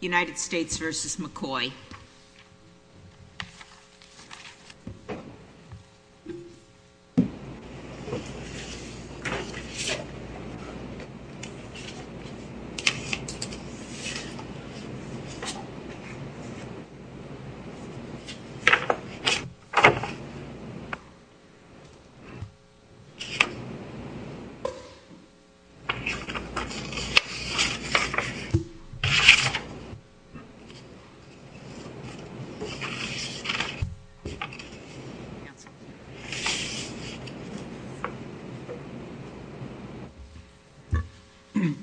United States versus McCoy.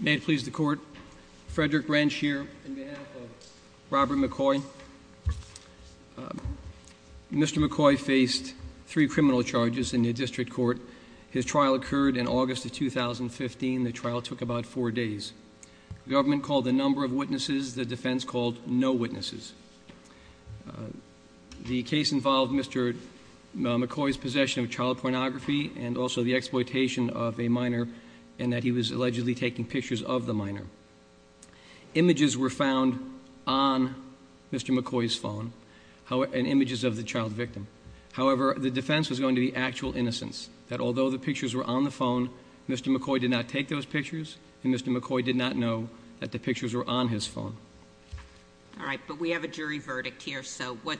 May it please the court, Frederick Wrench here on behalf of Robert McCoy. Mr. McCoy faced three criminal charges in the district court. His trial occurred in August of 2015. The trial took about four days. The government called the number of witnesses. The defense called no witnesses. The case involved Mr. McCoy's possession of child pornography and also the exploitation of a minor and that he was allegedly taking pictures of the minor. Images were found on Mr. McCoy's phone and images of the child victim. However, the defense was going to be actual innocence. That although the pictures were on the phone, Mr. McCoy did not take those pictures and Mr. McCoy did not know that the pictures were on his phone. All right, but we have a jury verdict here, so what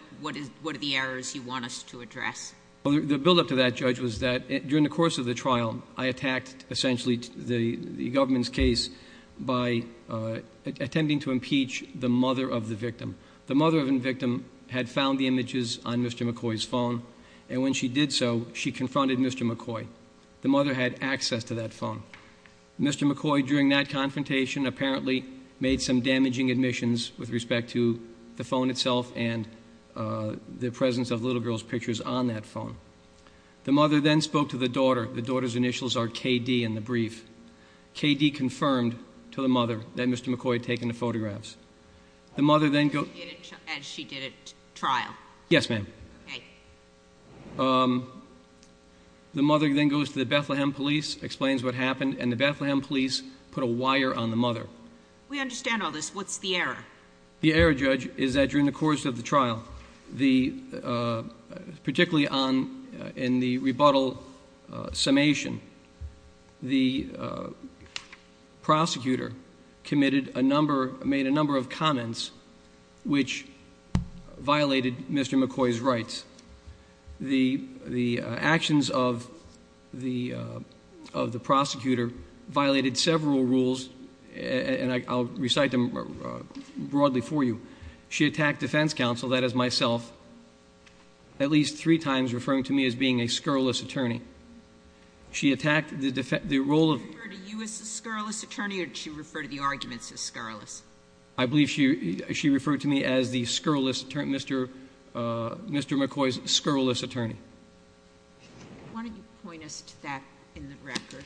are the errors you want us to address? The buildup to that, Judge, was that during the course of the trial, I attacked essentially the government's case by attempting to impeach the mother of the victim. The mother of the victim had found the images on Mr. McCoy's phone, and when she did so, she confronted Mr. McCoy. The mother had access to that phone. Mr. McCoy, during that confrontation, apparently made some damaging admissions with respect to the phone itself and the presence of little girl's pictures on that phone. The mother then spoke to the daughter. The daughter's initials are KD in the brief. KD confirmed to the mother that Mr. McCoy had taken the photographs. As she did at trial? Yes, ma'am. Okay. The mother then goes to the Bethlehem police, explains what happened, and the Bethlehem police put a wire on the mother. We understand all this. What's the error? The error, Judge, is that during the course of the trial, particularly in the rebuttal summation, the prosecutor made a number of comments which violated Mr. McCoy's rights. The actions of the prosecutor violated several rules, and I'll recite them broadly for you. She attacked defense counsel, that is myself, at least three times, referring to me as being a scurrilous attorney. She attacked the role of- Did she refer to you as a scurrilous attorney, or did she refer to the arguments as scurrilous? I believe she referred to me as the scurrilous attorney, Mr. McCoy's scurrilous attorney. Why don't you point us to that in the record?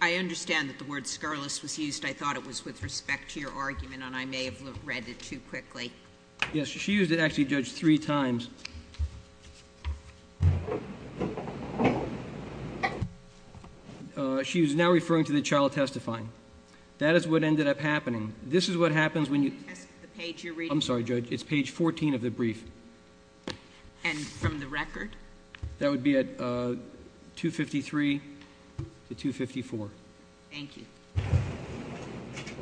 I understand that the word scurrilous was used. I thought it was with respect to your argument, and I may have read it too quickly. Yes, she used it actually, Judge, three times. She was now referring to the child testifying. That is what ended up happening. This is what happens when you- I'm sorry, Judge. It's page 14 of the brief. And from the record? That would be at 253 to 254. Thank you.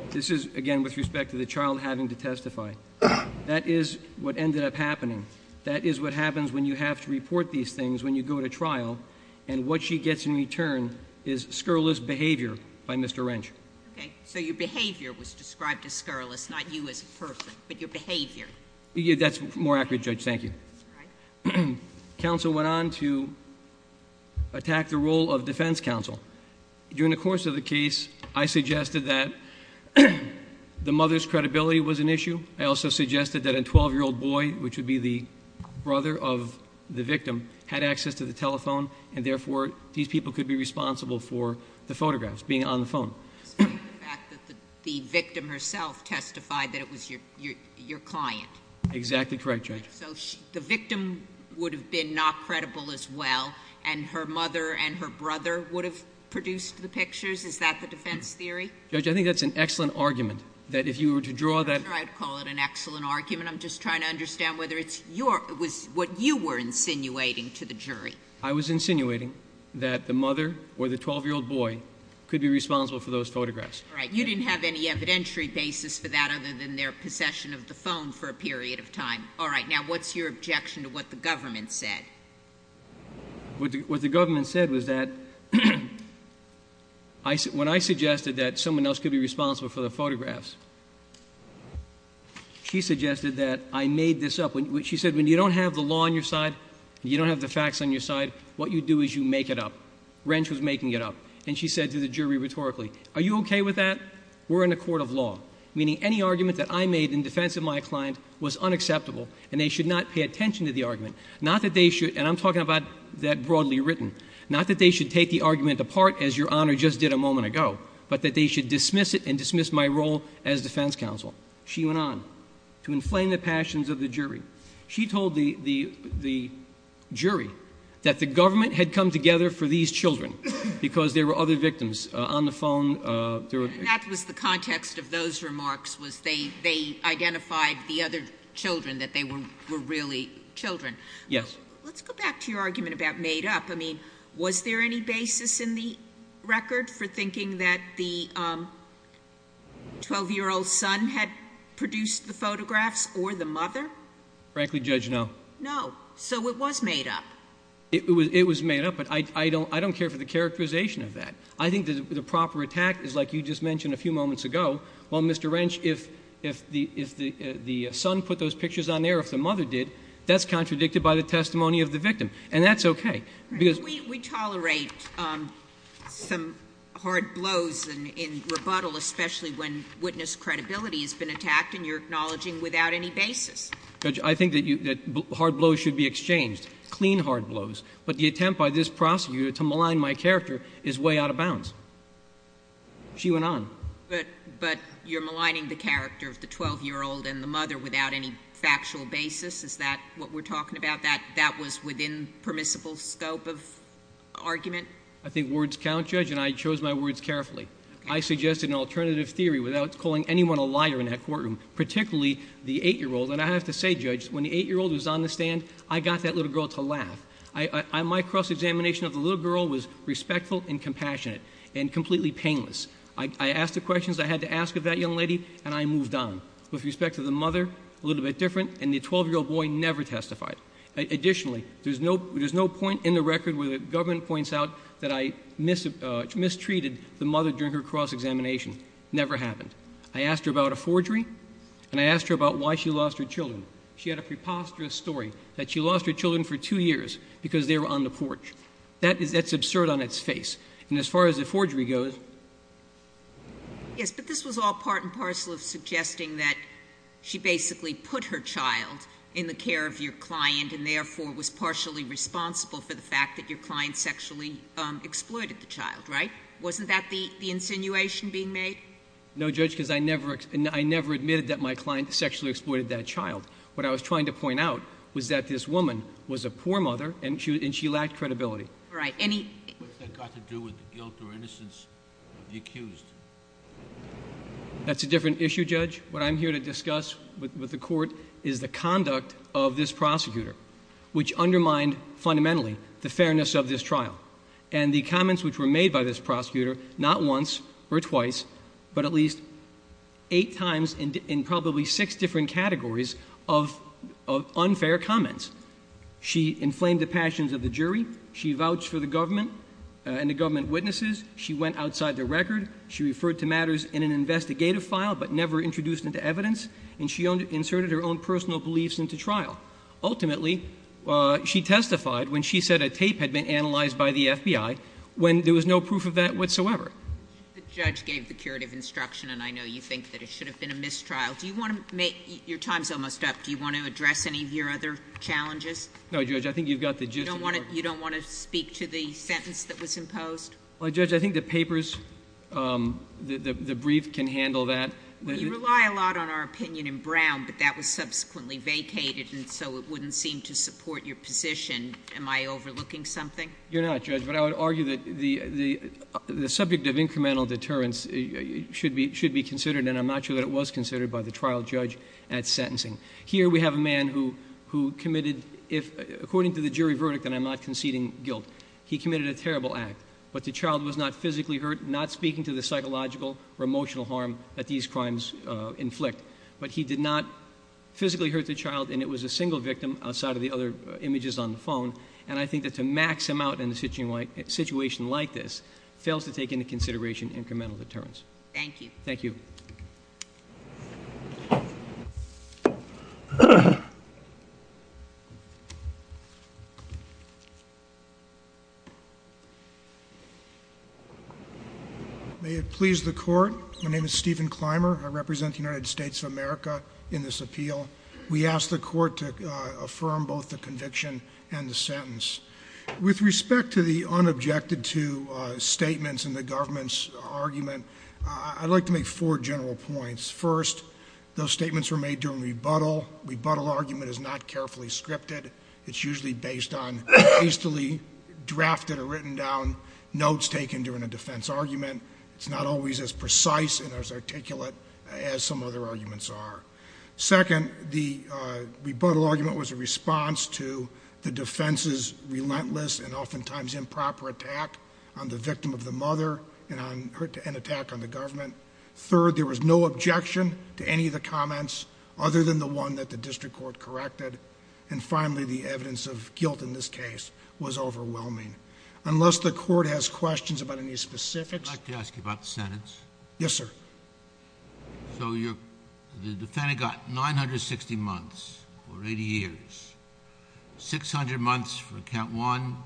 This is, again, with respect to the child having to testify. That is what ended up happening. That is what happens when you have to report these things when you go to trial, and what she gets in return is scurrilous behavior by Mr. Wrench. Okay, so your behavior was described as scurrilous, not you as a person, but your behavior. That's more accurate, Judge, thank you. All right. Counsel went on to attack the role of defense counsel. During the course of the case, I suggested that the mother's credibility was an issue. I also suggested that a 12-year-old boy, which would be the brother of the victim, had access to the telephone, and therefore, these people could be responsible for the photographs being on the phone. The victim herself testified that it was your client. Exactly correct, Judge. So the victim would have been not credible as well, and her mother and her brother would have produced the pictures? Is that the defense theory? Judge, I think that's an excellent argument, that if you were to draw that- I'm not trying to call it an excellent argument. I'm just trying to understand whether it was what you were insinuating to the jury. I was insinuating that the mother or the 12-year-old boy could be responsible for those photographs. All right. You didn't have any evidentiary basis for that other than their possession of the phone for a period of time. All right. Now what's your objection to what the government said? What the government said was that when I suggested that someone else could be responsible for the photographs, she suggested that I made this up. She said, when you don't have the law on your side, you don't have the facts on your side, what you do is you make it up. Wrench was making it up. And she said to the jury rhetorically, are you okay with that? We're in a court of law, meaning any argument that I made in defense of my client was unacceptable, and they should not pay attention to the argument, not that they should- and I'm talking about that broadly written- not that they should take the argument apart, as Your Honor just did a moment ago, but that they should dismiss it and dismiss my role as defense counsel. She went on to inflame the passions of the jury. She told the jury that the government had come together for these children because there were other victims on the phone. And that was the context of those remarks was they identified the other children, that they were really children. Yes. Let's go back to your argument about made up. I mean, was there any basis in the record for thinking that the 12-year-old son had produced the photographs or the mother? Frankly, Judge, no. No. So it was made up. It was made up, but I don't care for the characterization of that. I think the proper attack is like you just mentioned a few moments ago. Well, Mr. Wrench, if the son put those pictures on there or if the mother did, that's contradicted by the testimony of the victim, and that's okay. Because we tolerate some hard blows in rebuttal, especially when witness credibility has been attacked and you're acknowledging without any basis. Judge, I think that hard blows should be exchanged, clean hard blows. But the attempt by this prosecutor to malign my character is way out of bounds. She went on. But you're maligning the character of the 12-year-old and the mother without any factual basis? Is that what we're talking about? That that was within permissible scope of argument? I think words count, Judge, and I chose my words carefully. I suggested an alternative theory without calling anyone a liar in that courtroom, particularly the 8-year-old. And I have to say, Judge, when the 8-year-old was on the stand, I got that little girl to laugh. My cross-examination of the little girl was respectful and compassionate and completely painless. I asked the questions I had to ask of that young lady, and I moved on. With respect to the mother, a little bit different, and the 12-year-old boy never testified. Additionally, there's no point in the record where the government points out that I mistreated the mother during her cross-examination. Never happened. I asked her about a forgery, and I asked her about why she lost her children. She had a preposterous story that she lost her children for two years because they were on the porch. That's absurd on its face. And as far as the forgery goes. Yes, but this was all part and parcel of suggesting that she basically put her child in the care of your client and therefore was partially responsible for the fact that your client sexually exploited the child, right? Wasn't that the insinuation being made? No, Judge, because I never admitted that my client sexually exploited that child. What I was trying to point out was that this woman was a poor mother, and she lacked credibility. Right. What's that got to do with the guilt or innocence of the accused? That's a different issue, Judge. What I'm here to discuss with the court is the conduct of this prosecutor, which undermined fundamentally the fairness of this trial. And the comments which were made by this prosecutor, not once or twice, but at least eight times in probably six different categories of unfair comments. She inflamed the passions of the jury. She vouched for the government and the government witnesses. She went outside the record. She referred to matters in an investigative file but never introduced into evidence. And she inserted her own personal beliefs into trial. Ultimately, she testified when she said a tape had been analyzed by the FBI, when there was no proof of that whatsoever. The judge gave the curative instruction, and I know you think that it should have been a mistrial. Do you want to make — your time's almost up. Do you want to address any of your other challenges? No, Judge. I think you've got the gist of your — You don't want to speak to the sentence that was imposed? Well, Judge, I think the papers — the brief can handle that. You rely a lot on our opinion in Brown, but that was subsequently vacated, and so it wouldn't seem to support your position. Am I overlooking something? You're not, Judge, but I would argue that the subject of incremental deterrence should be considered, and I'm not sure that it was considered by the trial judge at sentencing. Here we have a man who committed, according to the jury verdict, and I'm not conceding guilt, he committed a terrible act. But the child was not physically hurt, not speaking to the psychological or emotional harm that these crimes inflict. But he did not physically hurt the child, and it was a single victim, outside of the other images on the phone. And I think that to max him out in a situation like this fails to take into consideration incremental deterrence. Thank you. Thank you. Thank you. May it please the Court, my name is Stephen Clymer. I represent the United States of America in this appeal. We ask the Court to affirm both the conviction and the sentence. With respect to the unobjected to statements in the government's argument, I'd like to make four general points. First, those statements were made during rebuttal. Rebuttal argument is not carefully scripted. It's usually based on hastily drafted or written down notes taken during a defense argument. It's not always as precise and as articulate as some other arguments are. Second, the rebuttal argument was a response to the defense's relentless and oftentimes improper attack on the victim of the mother and attack on the government. Third, there was no objection to any of the comments other than the one that the district court corrected. And finally, the evidence of guilt in this case was overwhelming. Unless the Court has questions about any specifics... I'd like to ask you about the sentence. Yes, sir. So the defendant got 960 months or 80 years, 600 months for count one,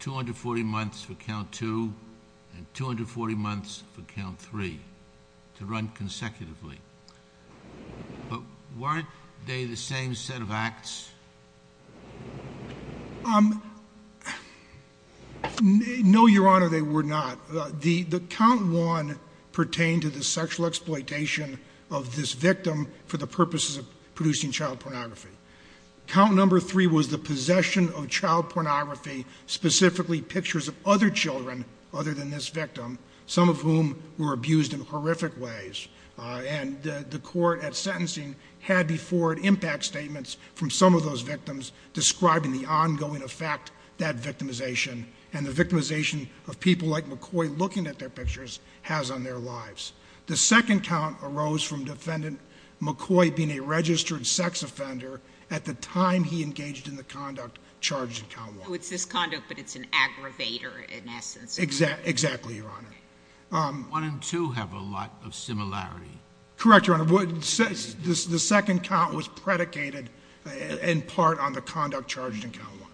240 months for count two, and 240 months for count three to run consecutively. But weren't they the same set of acts? No, Your Honor, they were not. The count one pertained to the sexual exploitation of this victim for the purposes of producing child pornography. Count number three was the possession of child pornography, specifically pictures of other children other than this victim, some of whom were abused in horrific ways. And the court at sentencing had before it impact statements from some of those victims describing the ongoing effect that victimization and the victimization of people like McCoy looking at their pictures has on their lives. The second count arose from Defendant McCoy being a registered sex offender at the time he engaged in the conduct charged in count one. So it's this conduct, but it's an aggravator in essence. Exactly, Your Honor. One and two have a lot of similarity. Correct, Your Honor. The second count was predicated in part on the conduct charged in count one.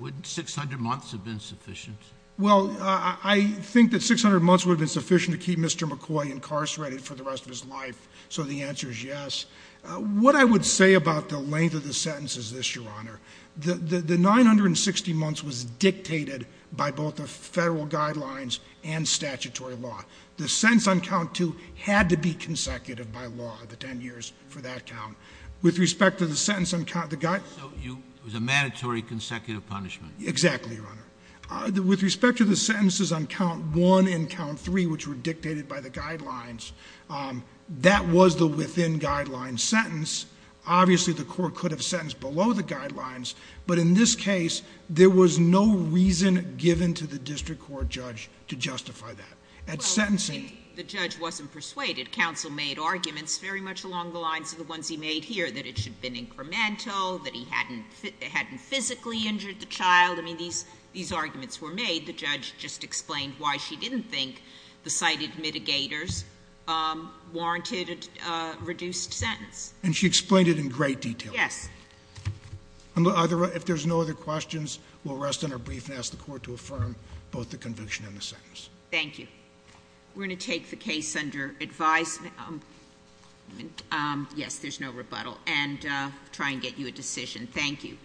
Wouldn't 600 months have been sufficient? Well, I think that 600 months would have been sufficient to keep Mr. McCoy incarcerated for the rest of his life, so the answer is yes. What I would say about the length of the sentences is this, Your Honor. The 960 months was dictated by both the federal guidelines and statutory law. The sentence on count two had to be consecutive by law, the 10 years for that count. With respect to the sentence on count the guide... So it was a mandatory consecutive punishment. Exactly, Your Honor. With respect to the sentences on count one and count three, which were dictated by the guidelines, that was the within guidelines sentence. Obviously, the court could have sentenced below the guidelines, but in this case, there was no reason given to the district court judge to justify that. At sentencing... The judge wasn't persuaded. Counsel made arguments very much along the lines of the ones he made here, that it should have been incremental, that he hadn't physically injured the child. I mean, these arguments were made. The judge just explained why she didn't think the cited mitigators warranted a reduced sentence. And she explained it in great detail. Yes. If there's no other questions, we'll rest on our brief and ask the court to affirm both the conviction and the sentence. Thank you. We're going to take the case under advice. Yes, there's no rebuttal. And try and get you a decision. Thank you.